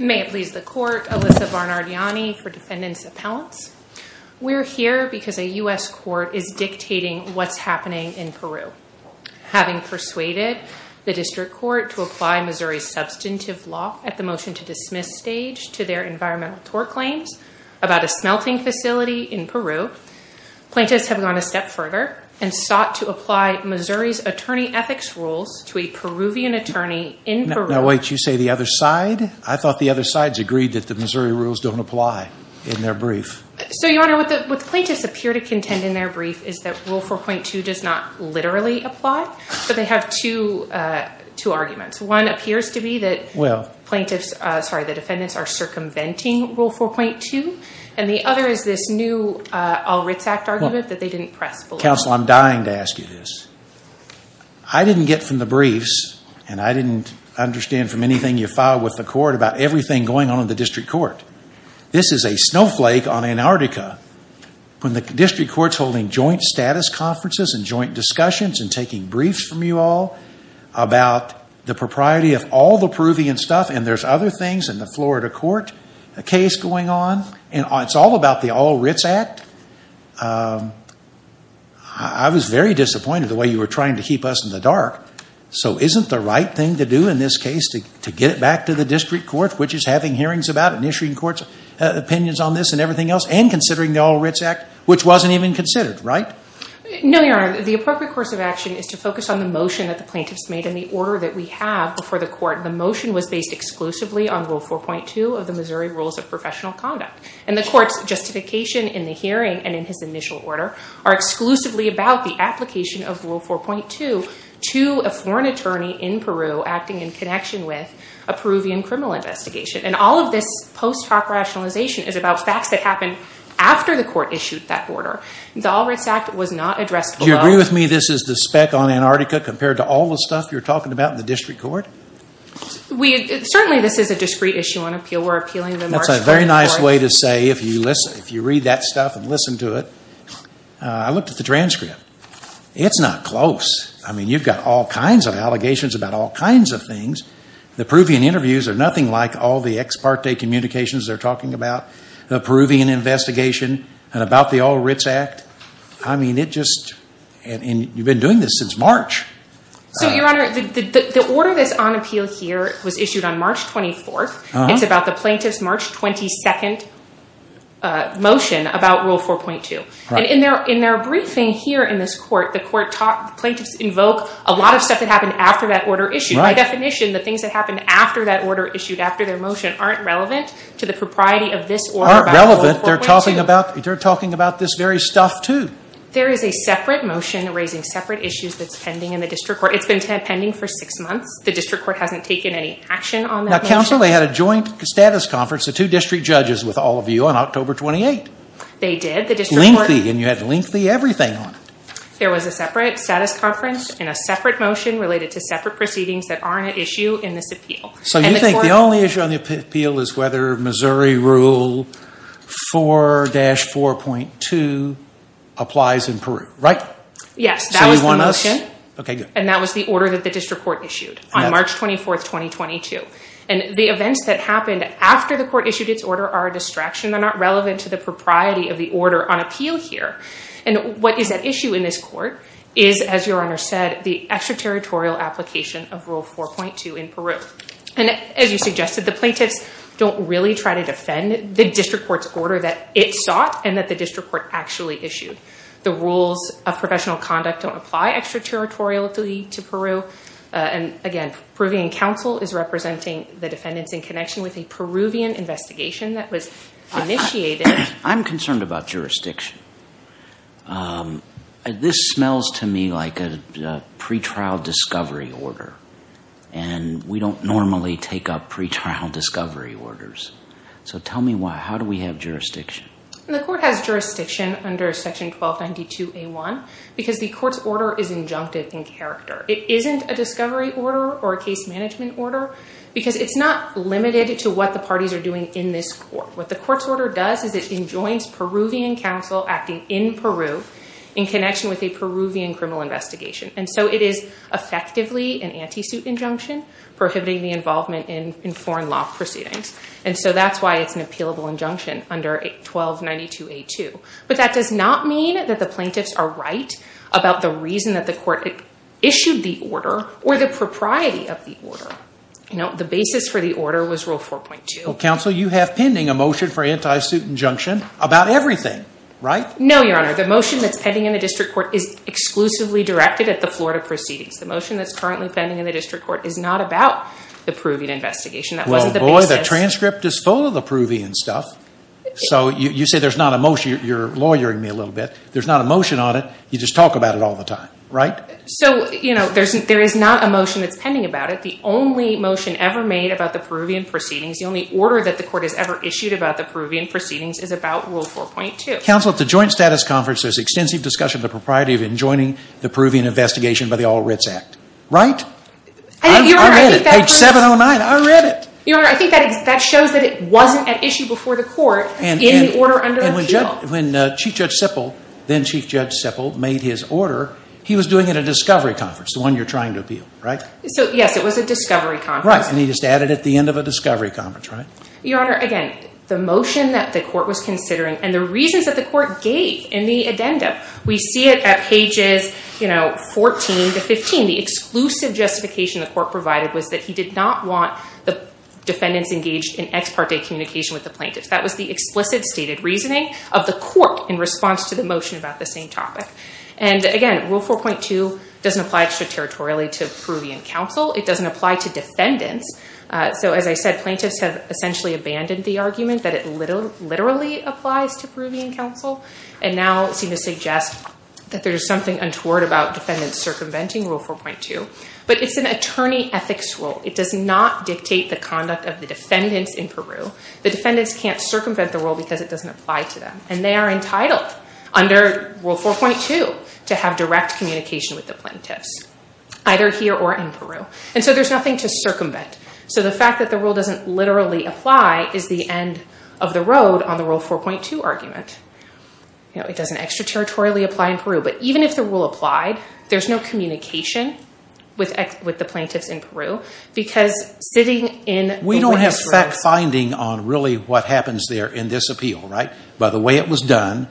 May it please the Court, Alyssa Barnardiani for Defendant's Appellants. We're here because a U.S. court is dictating what's happening in Peru. Having persuaded the District Court to apply Missouri's substantive law at the motion to about a smelting facility in Peru, plaintiffs have gone a step further and sought to apply Missouri's attorney ethics rules to a Peruvian attorney in Peru. Now wait, you say the other side? I thought the other sides agreed that the Missouri rules don't apply in their brief. So Your Honor, what the plaintiffs appear to contend in their brief is that Rule 4.2 does not literally apply, but they have two arguments. One appears to be that the defendants are circumventing Rule 4.2, and the other is this new Al Ritz Act argument that they didn't press. Counsel, I'm dying to ask you this. I didn't get from the briefs and I didn't understand from anything you filed with the court about everything going on in the District Court. This is a snowflake on Antarctica when the District Court's holding joint status conferences and joint discussions and taking briefs from you all about the propriety of all the Peruvian stuff and there's other things in the Florida court, a case going on, and it's all about the Al Ritz Act. I was very disappointed the way you were trying to keep us in the dark. So isn't the right thing to do in this case to get it back to the District Court, which is having hearings about it and issuing court's opinions on this and everything else and considering the Al Ritz Act, which wasn't even considered, right? No, Your Honor. The appropriate course of action is to focus on the motion that the on Rule 4.2 of the Missouri Rules of Professional Conduct. And the court's justification in the hearing and in his initial order are exclusively about the application of Rule 4.2 to a foreign attorney in Peru acting in connection with a Peruvian criminal investigation. And all of this post hoc rationalization is about facts that happened after the court issued that order. The Al Ritz Act was not addressed below. Do you agree with me this is the speck on Antarctica compared to all the stuff you're talking about in the District Court? We, certainly this is a discrete issue on appeal. We're appealing the March court report. That's a very nice way to say, if you read that stuff and listen to it. I looked at the transcript. It's not close. I mean, you've got all kinds of allegations about all kinds of things. The Peruvian interviews are nothing like all the ex parte communications they're talking about. The Peruvian investigation and about the Al Ritz Act. I mean, it just, and you've been doing this since March. So, Your Honor, the order that's on appeal here was issued on March 24th. It's about the plaintiff's March 22nd motion about Rule 4.2. And in their briefing here in this court, the plaintiffs invoke a lot of stuff that happened after that order issued. By definition, the things that happened after that order issued, after their motion, aren't relevant to the propriety of this order about Rule 4.2. Aren't relevant? They're talking about this very stuff too. There is a separate motion raising separate issues that's pending in the district court. It's been pending for six months. The district court hasn't taken any action on that motion. Now, counsel, they had a joint status conference, the two district judges, with all of you on October 28th. They did. The district court... Lengthy. And you had lengthy everything on it. There was a separate status conference and a separate motion related to separate proceedings that aren't at issue in this appeal. So you think the only issue on the appeal is whether Missouri Rule 4-4.2 applies in Peru, right? Yes. So you want us... So you want us... Okay, good. And that was the order that the district court issued on March 24th, 2022. And the events that happened after the court issued its order are a distraction. They're not relevant to the propriety of the order on appeal here. And what is at issue in this court is, as you suggested, the plaintiffs don't really try to defend the district court's order that it sought and that the district court actually issued. The rules of professional conduct don't apply extraterritorially to Peru. And again, Peruvian counsel is representing the defendants in connection with a Peruvian investigation that was initiated... I'm concerned about jurisdiction. This smells to me like a pretrial discovery order. And we don't normally take up pretrial discovery orders. So tell me why. How do we have jurisdiction? The court has jurisdiction under Section 1292A1 because the court's order is injunctive in character. It isn't a discovery order or a case management order because it's not limited to what the parties are doing in this court. What the court's order does is it enjoins Peruvian counsel acting in Peru in connection with a Peruvian criminal investigation. And so it is effectively an anti-suit injunction prohibiting the involvement in foreign law proceedings. And so that's why it's an appealable injunction under 1292A2. But that does not mean that the plaintiffs are right about the reason that the court issued the order or the propriety of the order. The basis for the order was Rule 4.2. Well, counsel, you have pending a motion for anti-suit injunction about everything, right? No, Your Honor. The motion that's pending in the district court is exclusively directed at the Florida proceedings. The motion that's currently pending in the district court is not about the Peruvian investigation. That wasn't the basis. Well, boy, the transcript is full of the Peruvian stuff. So you say there's not a motion. You're lawyering me a little bit. There's not a motion on it. You just talk about it all the time, right? So, you know, there is not a motion that's pending about it. The only motion ever made about the Peruvian proceedings, the only order that the court has ever issued about the Peruvian proceedings is about Rule 4.2. Counsel, at the joint status conference, there's extensive discussion of the propriety of enjoining the Peruvian investigation by the All Writs Act, right? I think, Your Honor, I think that... I read it. Page 709. I read it. Your Honor, I think that shows that it wasn't at issue before the court in the order under the appeal. When Chief Judge Sippel, then Chief Judge Sippel, made his order, he was doing it at a discovery conference, the one you're trying to appeal, right? So, yes, it was a discovery conference. Right. And he just added at the end of a discovery conference, right? Your Honor, again, the motion that the court was considering and the reasons that the court gave in the addendum, we see it at pages, you know, 14 to 15. The exclusive justification the court provided was that he did not want the defendants engaged in ex parte communication with the plaintiffs. That was the explicit stated reasoning of the court in response to the motion about the same topic. And again, Rule 4.2 doesn't apply extraterritorially to Peruvian counsel. It doesn't apply to defendants. So, as I said, plaintiffs have essentially abandoned the argument that it literally applies to Peruvian counsel and now seem to suggest that there's something untoward about defendants circumventing Rule 4.2. But it's an attorney ethics rule. It does not dictate the conduct of the defendants in Peru. The defendants can't circumvent the rule because it doesn't apply to them. And they are entitled under Rule 4.2 to have direct communication with the plaintiffs either here or in Peru. And so, there's nothing to circumvent. So, the fact that the rule doesn't literally apply is the end of the road on the Rule 4.2 argument. You know, it doesn't extraterritorially apply in Peru. But even if the rule applied, there's no communication with the plaintiffs in Peru because sitting in the court history... We don't have fact-finding on really what happens there in this appeal, right? By the way it was done,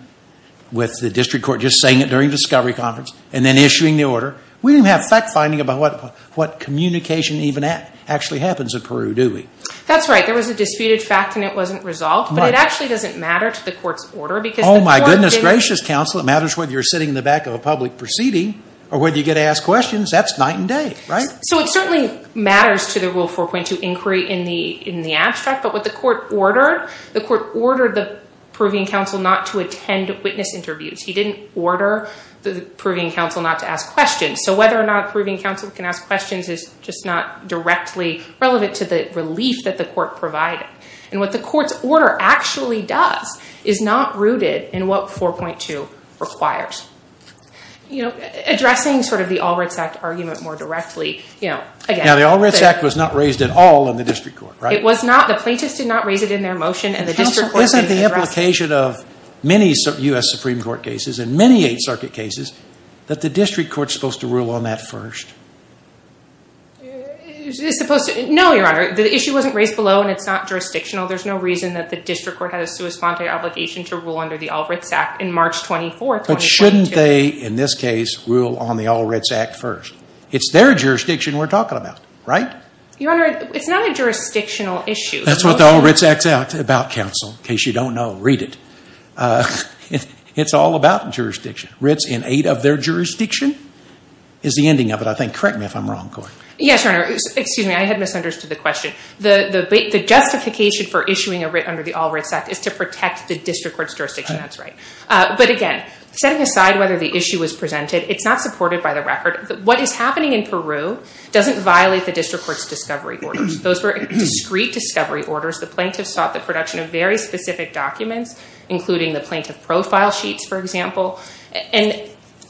with the district court just saying it during the discovery conference and then issuing the order, we don't have fact-finding about what communication actually happens in Peru, do we? That's right. There was a disputed fact and it wasn't resolved. But it actually doesn't matter to the court's order because the court didn't... Oh my goodness gracious, counsel. It matters whether you're sitting in the back of a public proceeding or whether you get asked questions. That's night and day, right? So, it certainly matters to the Rule 4.2 inquiry in the abstract. But what the court ordered, the court ordered the Peruvian counsel not to attend witness interviews. He didn't order the Peruvian counsel not to ask questions. So, whether or not Peruvian counsel can ask questions is just not directly relevant to the relief that the court provided. And what the court's order actually does is not rooted in what 4.2 requires. You know, addressing sort of the Alritz Act argument more directly, you know, again... Now, the Alritz Act was not raised at all in the district court, right? It was not. The plaintiffs did not raise it in their motion and the district court didn't address it. Counsel, isn't the implication of many U.S. Supreme Court cases and many Eighth Circuit cases that the district court's supposed to rule on that first? No, Your Honor. The issue wasn't raised below and it's not jurisdictional. There's no reason that the district court has a sui sponte obligation to rule under the Alritz Act in March 24, 2022. But shouldn't they, in this case, rule on the Alritz Act first? It's their jurisdiction we're talking about, right? Your Honor, it's not a jurisdictional issue. That's what the Alritz Act's about, counsel. In case you don't know, read it. It's all about jurisdiction. Writs in aid of their jurisdiction is the ending of it, I think. Correct me if I'm wrong, Court. Yes, Your Honor. Excuse me. I had misunderstood the question. The justification for issuing a writ under the Alritz Act is to protect the district court's jurisdiction. That's right. But again, setting aside whether the issue was presented, it's not supported by the record. What is happening in Peru doesn't violate the district court's discovery orders. Those were discrete discovery orders. The plaintiff sought the production of very specific documents, including the plaintiff profile sheets, for example.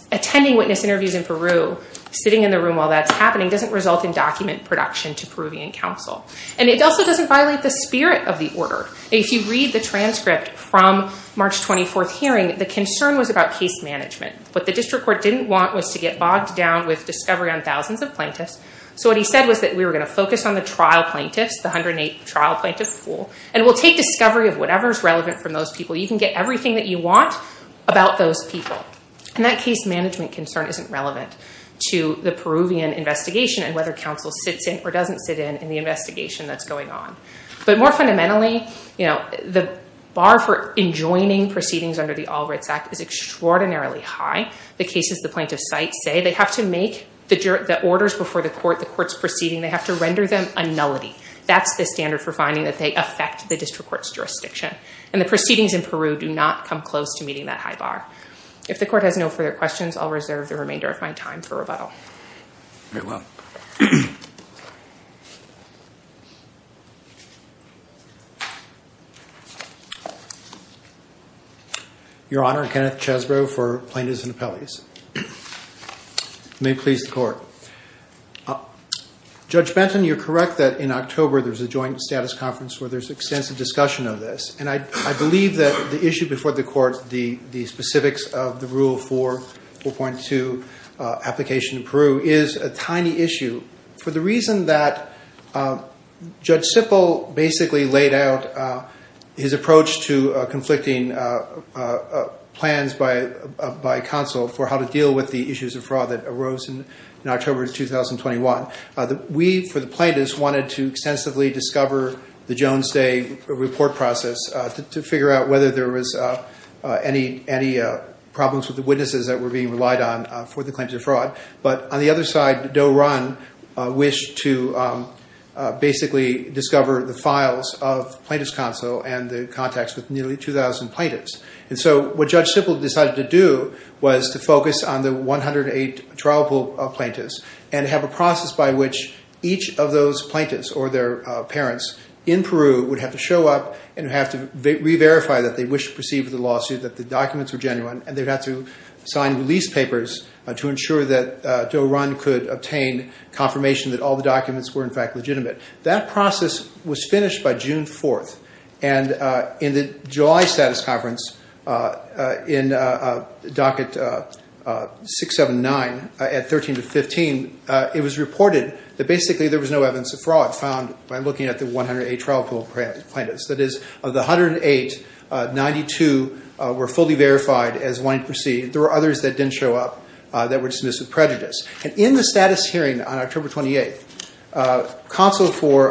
Attending witness interviews in Peru, sitting in the room while that's happening, doesn't result in document production to Peruvian counsel. And it also doesn't violate the concern was about case management. What the district court didn't want was to get bogged down with discovery on thousands of plaintiffs. So what he said was that we were going to focus on the trial plaintiffs, the 108 trial plaintiffs full, and we'll take discovery of whatever is relevant from those people. You can get everything that you want about those people. And that case management concern isn't relevant to the Peruvian investigation and whether counsel sits in or doesn't sit in the investigation that's going on. But more fundamentally, the bar for enjoining proceedings under the All Rights Act is extraordinarily high. The cases the plaintiffs cite say they have to make the orders before the court, the court's proceeding, they have to render them a nullity. That's the standard for finding that they affect the district court's jurisdiction. And the proceedings in Peru do not come close to meeting that high bar. If the court has no further questions, I'll reserve the remainder of my time for rebuttal. Your Honor, Kenneth Chesbrough for Plaintiffs and Appellees. May it please the Court. Judge Benton, you're correct that in October there's a joint status conference where there's extensive discussion of this. And I believe that the issue before the court, the specifics of the Rule 4.2 application in Peru is a tiny issue for the reason that Judge Sippel basically laid out his approach to conflicting plans by counsel for how to deal with the issues of fraud that arose in October of 2021. We for the plaintiffs wanted to extensively discover the Jones Day report process to figure out whether there was any problems with the witnesses that were being relied on for the claims of fraud. But on the other side, Doe Run wished to basically discover the files of Plaintiffs' Counsel and the contacts with nearly 2,000 plaintiffs. And so what Judge Sippel decided to do was to focus on the 108 trial pool plaintiffs and have a process by which each of those plaintiffs or their parents in Peru would have to show up and have to re-verify that they wished to proceed with the lawsuit, that the documents were genuine, and they'd have to sign release papers to ensure that Doe and all the documents were, in fact, legitimate. That process was finished by June 4th, and in the July status conference in docket 679 at 13 to 15, it was reported that basically there was no evidence of fraud found by looking at the 108 trial pool plaintiffs. That is, of the 108, 92 were fully verified as wanting to proceed. There were others that didn't and the counsel for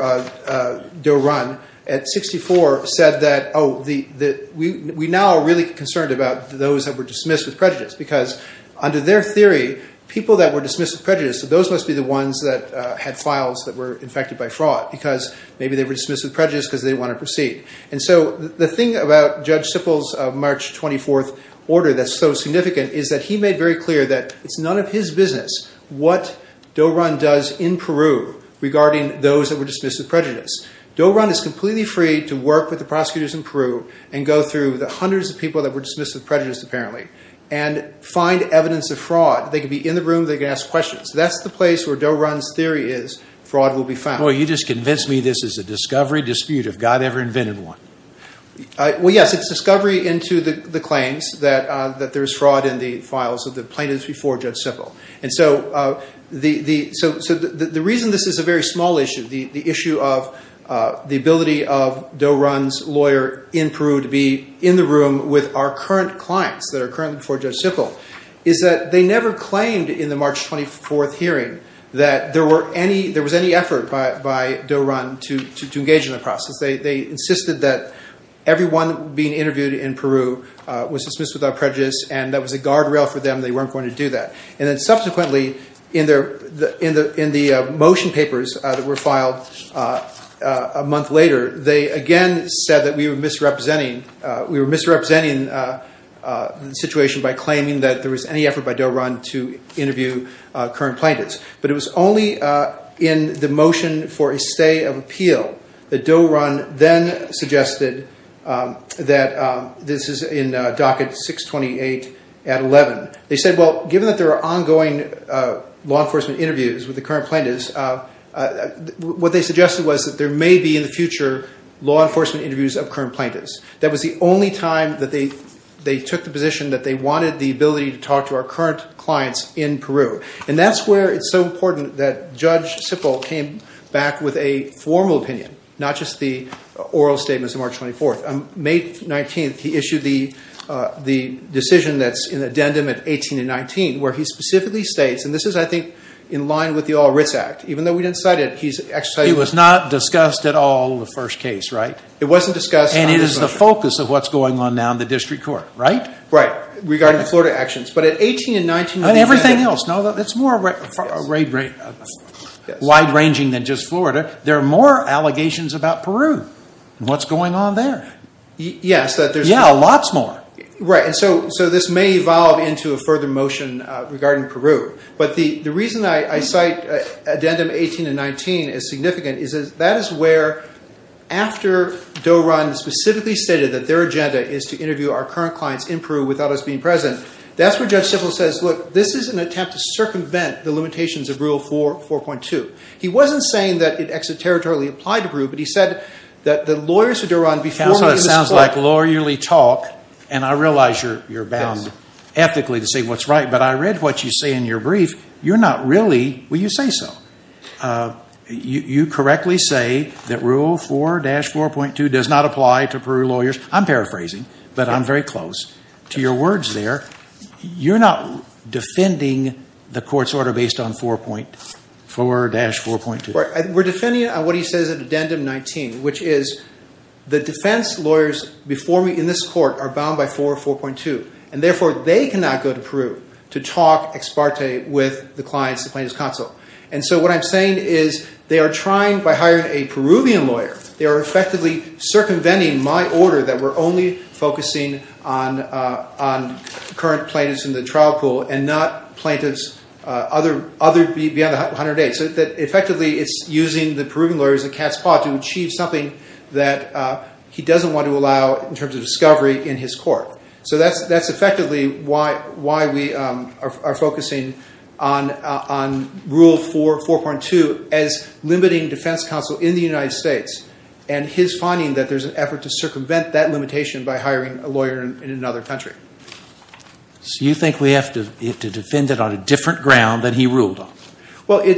Doe Run at 64 said that, oh, we now are really concerned about those that were dismissed with prejudice because under their theory, people that were dismissed with prejudice, those must be the ones that had files that were infected by fraud because maybe they were dismissed with prejudice because they didn't want to proceed. And so the thing about Judge Sippel's March 24th order that's so significant is that he made very clear that it's none of his business what Doe Run does in Peru regarding those that were dismissed with prejudice. Doe Run is completely free to work with the prosecutors in Peru and go through the hundreds of people that were dismissed with prejudice, apparently, and find evidence of fraud. They could be in the room, they could ask questions. That's the place where Doe Run's theory is fraud will be found. Boy, you just convinced me this is a discovery dispute if God ever invented one. Well, yes, it's discovery into the claims that there's fraud in the files of the plaintiffs before Judge Sippel. And so the reason this is a very small issue, the issue of the ability of Doe Run's lawyer in Peru to be in the room with our current clients that are currently before Judge Sippel is that they never claimed in the March 24th hearing that there was any effort by Doe Run to engage in the process. They insisted that everyone being interviewed in Peru was dismissed with prejudice and that was a guardrail for them, they weren't going to do that. And then subsequently, in the motion papers that were filed a month later, they again said that we were misrepresenting the situation by claiming that there was any effort by Doe Run to interview current plaintiffs. But it was only in the motion for a stay of appeal that Doe Run then suggested that this is in docket 628 at 11. They said, well, given that there are ongoing law enforcement interviews with the current plaintiffs, what they suggested was that there may be in the future law enforcement interviews of current plaintiffs. That was the only time that they took the position that they wanted the ability to talk to our current clients in Peru. And that's where it's so important that Judge Sippel came back with a formal opinion, not just the oral statements of March 24th. May 19th, he issued the decision that's in addendum at 18 and 19, where he specifically states, and this is, I think, in line with the All Writs Act, even though we didn't cite it, he's exercising... It was not discussed at all in the first case, right? It wasn't discussed. And it is the focus of what's going on now in the district court, right? Right, regarding Florida actions. But at 18 and 19... And everything else. It's more wide-ranging than just Florida. There are more allegations about Peru and what's going on there. Yes, that there's... Yeah, lots more. Right. So this may evolve into a further motion regarding Peru. But the reason I cite addendum 18 and 19 as significant is that that is where, after Doran specifically stated that their agenda is to interview our current clients in Peru without us being present, that's where Judge Sippel says, look, this is an attempt to circumvent the limitations of Rule 4.2. He wasn't saying that it extraterritorially applied to Peru, but he said that the lawyers of Doran before... That's what it sounds like, lawyerly talk. And I realize you're bound ethically to say what's right, but I read what you say in your brief. You're not really... Well, you say so. You correctly say that Rule 4-4.2 does not apply to Peru lawyers. I'm paraphrasing, but I'm very close to your words there. You're not defending the court's order based on 4-4.2? We're defending it on what he says in addendum 19, which is the defense lawyers before me in this court are bound by 4-4.2, and therefore they cannot go to Peru to talk ex parte with the clients, the plaintiff's counsel. And so what I'm saying is they are trying, by hiring a Peruvian lawyer, they are effectively circumventing my order that we're only focusing on current plaintiffs in the trial pool and not plaintiffs beyond the 108. So effectively it's using the Peruvian lawyer as a cat's paw to achieve something that he doesn't want to allow in terms of discovery in his court. So that's effectively why we are focusing on Rule 4-4.2 as limiting defense counsel in the United States and his finding that there's an effort to circumvent that limitation by hiring a lawyer in another country. You think we have to defend it on a different ground than he ruled on? Well, I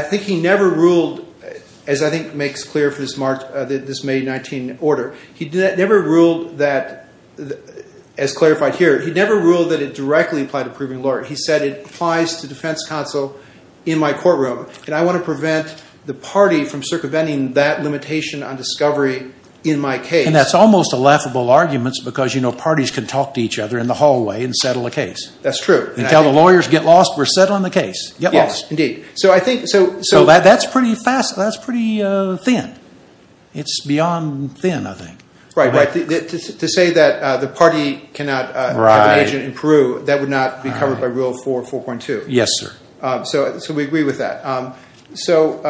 think he never ruled, as I think makes clear for this May 19 order, he never ruled that, as clarified here, he never ruled that it directly applied to a Peruvian lawyer. He said it applies to defense counsel in my courtroom, and I want to prevent the party from circumventing that limitation on discovery in my case. That's almost a laughable argument because parties can talk to each other in the hallway and settle a case. That's true. And tell the lawyers, get lost, we're settling the case. Get lost. Yes, indeed. So I think... So that's pretty fast, that's pretty thin. It's beyond thin, I think. Right, right. To say that the party cannot have an agent in Peru, that would not be covered by Rule 4-4.2. Yes, sir. So we agree with that. So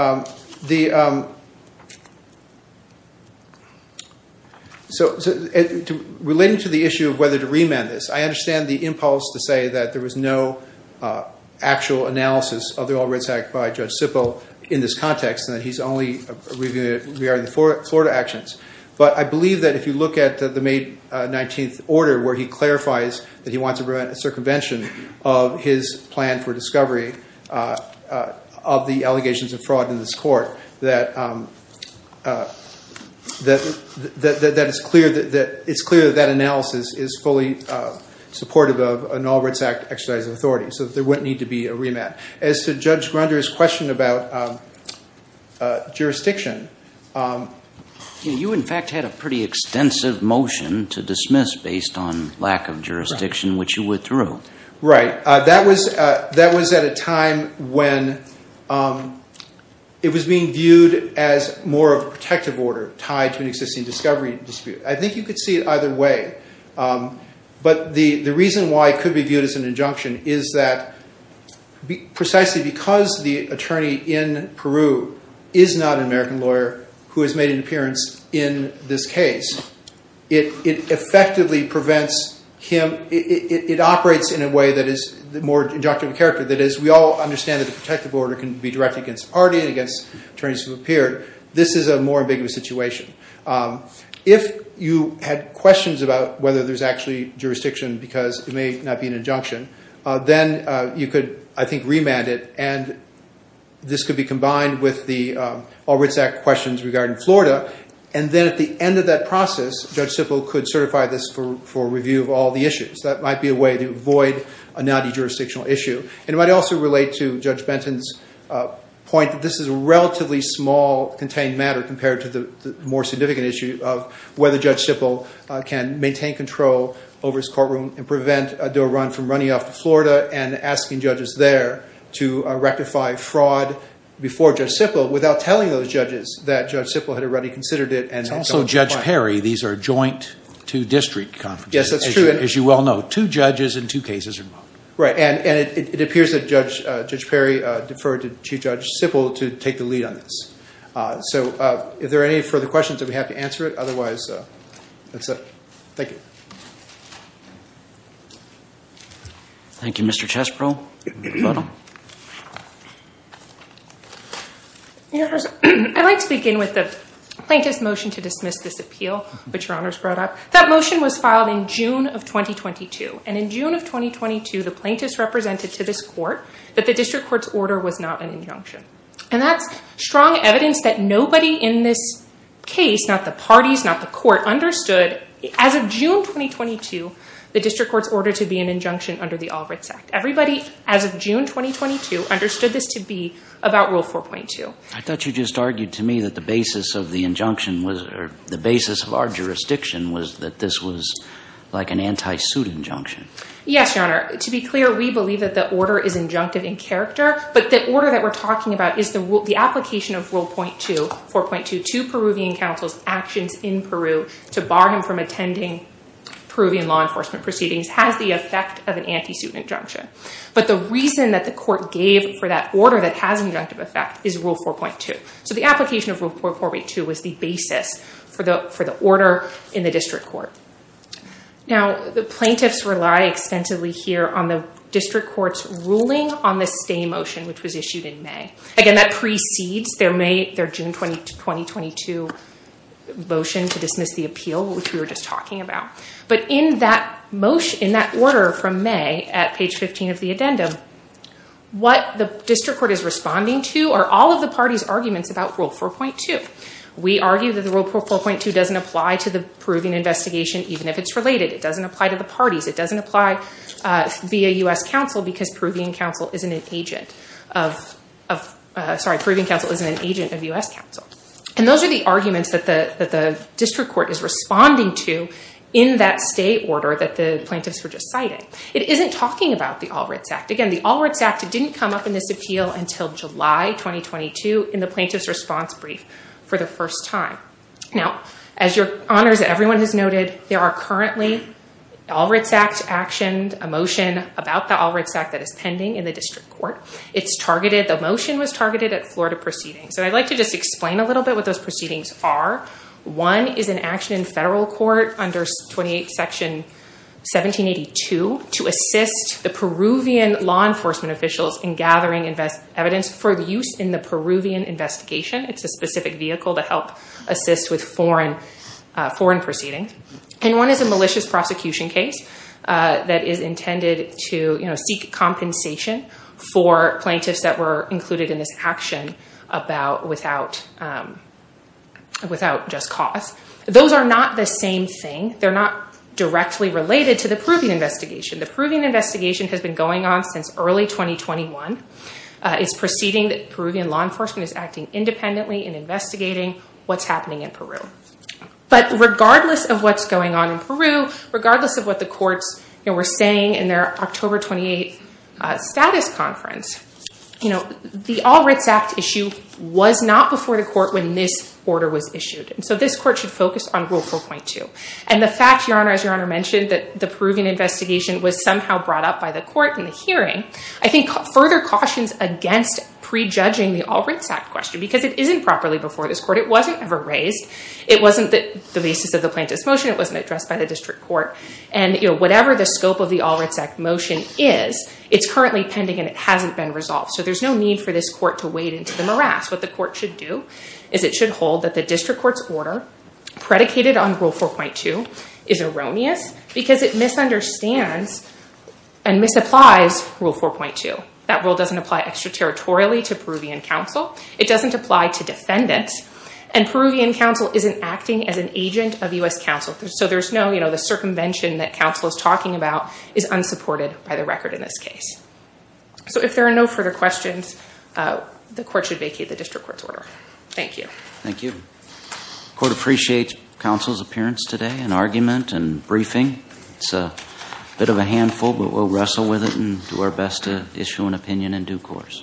relating to the issue of whether to remand this, I understand the impulse to say that there was no actual analysis of the All Rights Act by Judge Sippel in this context, and that he's only reviewing it regarding the Florida actions. But I believe that if you look at the May 19 order, where he clarifies that he wants to prevent circumvention of his plan for discovery of the allegations of fraud in this court, that it's clear that that analysis is fully supportive of an All Rights Act exercise of authority. So there wouldn't need to be a remand. As to Judge Grunder's question about jurisdiction... You in fact had a pretty extensive motion to dismiss based on lack of jurisdiction, which you withdrew. Right. That was at a time when it was being viewed as more of a protective order tied to an existing discovery dispute. I think you could see it either way. But the reason why it could be viewed as an injunction is that precisely because the attorney in Peru is not an American lawyer who has made an appearance in this case, it effectively prevents him... It operates in a way that is more injunctive of character. That is, we all understand that the protective order can be directed against the party and against attorneys who appear. This is a more ambiguous situation. If you had questions about whether there's actually jurisdiction because it may not be an injunction, then you could, I think, remand it. And this could be combined with the All Rights Act questions regarding Florida. And then at the end of that process, Judge Sippel could certify this for review of all the issues. That might be a way to avoid a naughty jurisdictional issue. And it might also relate to Judge Benton's point that this is a relatively small contained matter compared to the more significant issue of whether Judge Sippel can maintain control over his courtroom and prevent a door run from running off to Florida and asking judges there to rectify fraud before Judge Sippel without telling those judges that Judge Sippel had already considered it and had gone to court. And also, Judge Perry, these are joint two district conferences, as you well know. Two judges and two cases are involved. Right. And it appears that Judge Perry deferred to Chief Judge Sippel to take the lead on this. So if there are any further questions, I'd be happy to answer it. Otherwise, that's it. Thank you. Thank you, Mr. Chesbrough. I'd like to begin with the plaintiff's motion to dismiss this appeal, which your honors brought up. That motion was filed in June of 2022. And in June of 2022, the plaintiffs represented to this court that the district court's order was not an injunction. And that's strong evidence that nobody in this case, not the parties, not the court, understood as of June 2022, the district court's order to be an injunction under the Albright Act. Everybody, as of June 2022, understood this to be about Rule 4.2. I thought you just argued to me that the basis of the injunction was, or the basis of our jurisdiction, was that this was like an anti-suit injunction. Yes, your honor. To be clear, we believe that the order is injunctive in character, but the order that we're talking about is the application of Rule 4.2 to Peruvian counsel's actions in Peru to bar him from attending Peruvian law enforcement proceedings has the effect of an anti-suit injunction. But the reason that the court gave for that order that has an injunctive effect is Rule 4.2. So the application of Rule 4.2 was the basis for the order in the district court. Now, the plaintiffs rely extensively here on the district court's ruling on the stay motion, which was issued in May. Again, that precedes their June 2022 motion to dismiss the appeal, which we were just in that order from May at page 15 of the addendum. What the district court is responding to are all of the party's arguments about Rule 4.2. We argue that the Rule 4.2 doesn't apply to the Peruvian investigation, even if it's related. It doesn't apply to the parties. It doesn't apply via U.S. counsel because Peruvian counsel isn't an agent of U.S. counsel. And those are the arguments that the district court is responding to in that stay order that the plaintiffs were just citing. It isn't talking about the Alritz Act. Again, the Alritz Act didn't come up in this appeal until July 2022 in the plaintiff's response brief for the first time. Now, as your honors, everyone has noted, there are currently Alritz Act actioned a motion about the Alritz Act that is pending in the district court. It's targeted. The motion was targeted at Florida proceedings. And I'd like to just explain a little bit what those proceedings are. One is an action in federal court under 28 Section 1782 to assist the Peruvian law enforcement officials in gathering evidence for the use in the Peruvian investigation. It's a specific vehicle to help assist with foreign proceedings. And one is a malicious prosecution case that is intended to seek compensation for without just cause. Those are not the same thing. They're not directly related to the Peruvian investigation. The Peruvian investigation has been going on since early 2021. It's proceeding that Peruvian law enforcement is acting independently in investigating what's happening in Peru. But regardless of what's going on in Peru, regardless of what the courts were saying in their October 28th status conference, the Alritz Act issue was not before the court when this order was issued. And so this court should focus on Rule 4.2. And the fact, Your Honor, as Your Honor mentioned, that the Peruvian investigation was somehow brought up by the court in the hearing, I think further cautions against prejudging the Alritz Act question because it isn't properly before this court. It wasn't ever raised. It wasn't the basis of the plaintiff's motion. It wasn't addressed by the district court. And whatever the scope of the Alritz Act motion is, it's currently pending and it hasn't been resolved. So there's no need for this court to wade into the morass. What the court should do is it should hold that the district court's order predicated on Rule 4.2 is erroneous because it misunderstands and misapplies Rule 4.2. That rule doesn't apply extraterritorially to Peruvian counsel. It doesn't apply to defendants. And Peruvian counsel isn't acting as an agent of U.S. counsel. So there's no, you know, the circumvention that counsel is talking about is unsupported by the record in this case. So if there are no further questions, the court should vacate the district court's order. Thank you. Thank you. Court appreciates counsel's appearance today and argument and briefing. It's a bit of a handful, but we'll wrestle with it and do our best to issue an opinion in due course.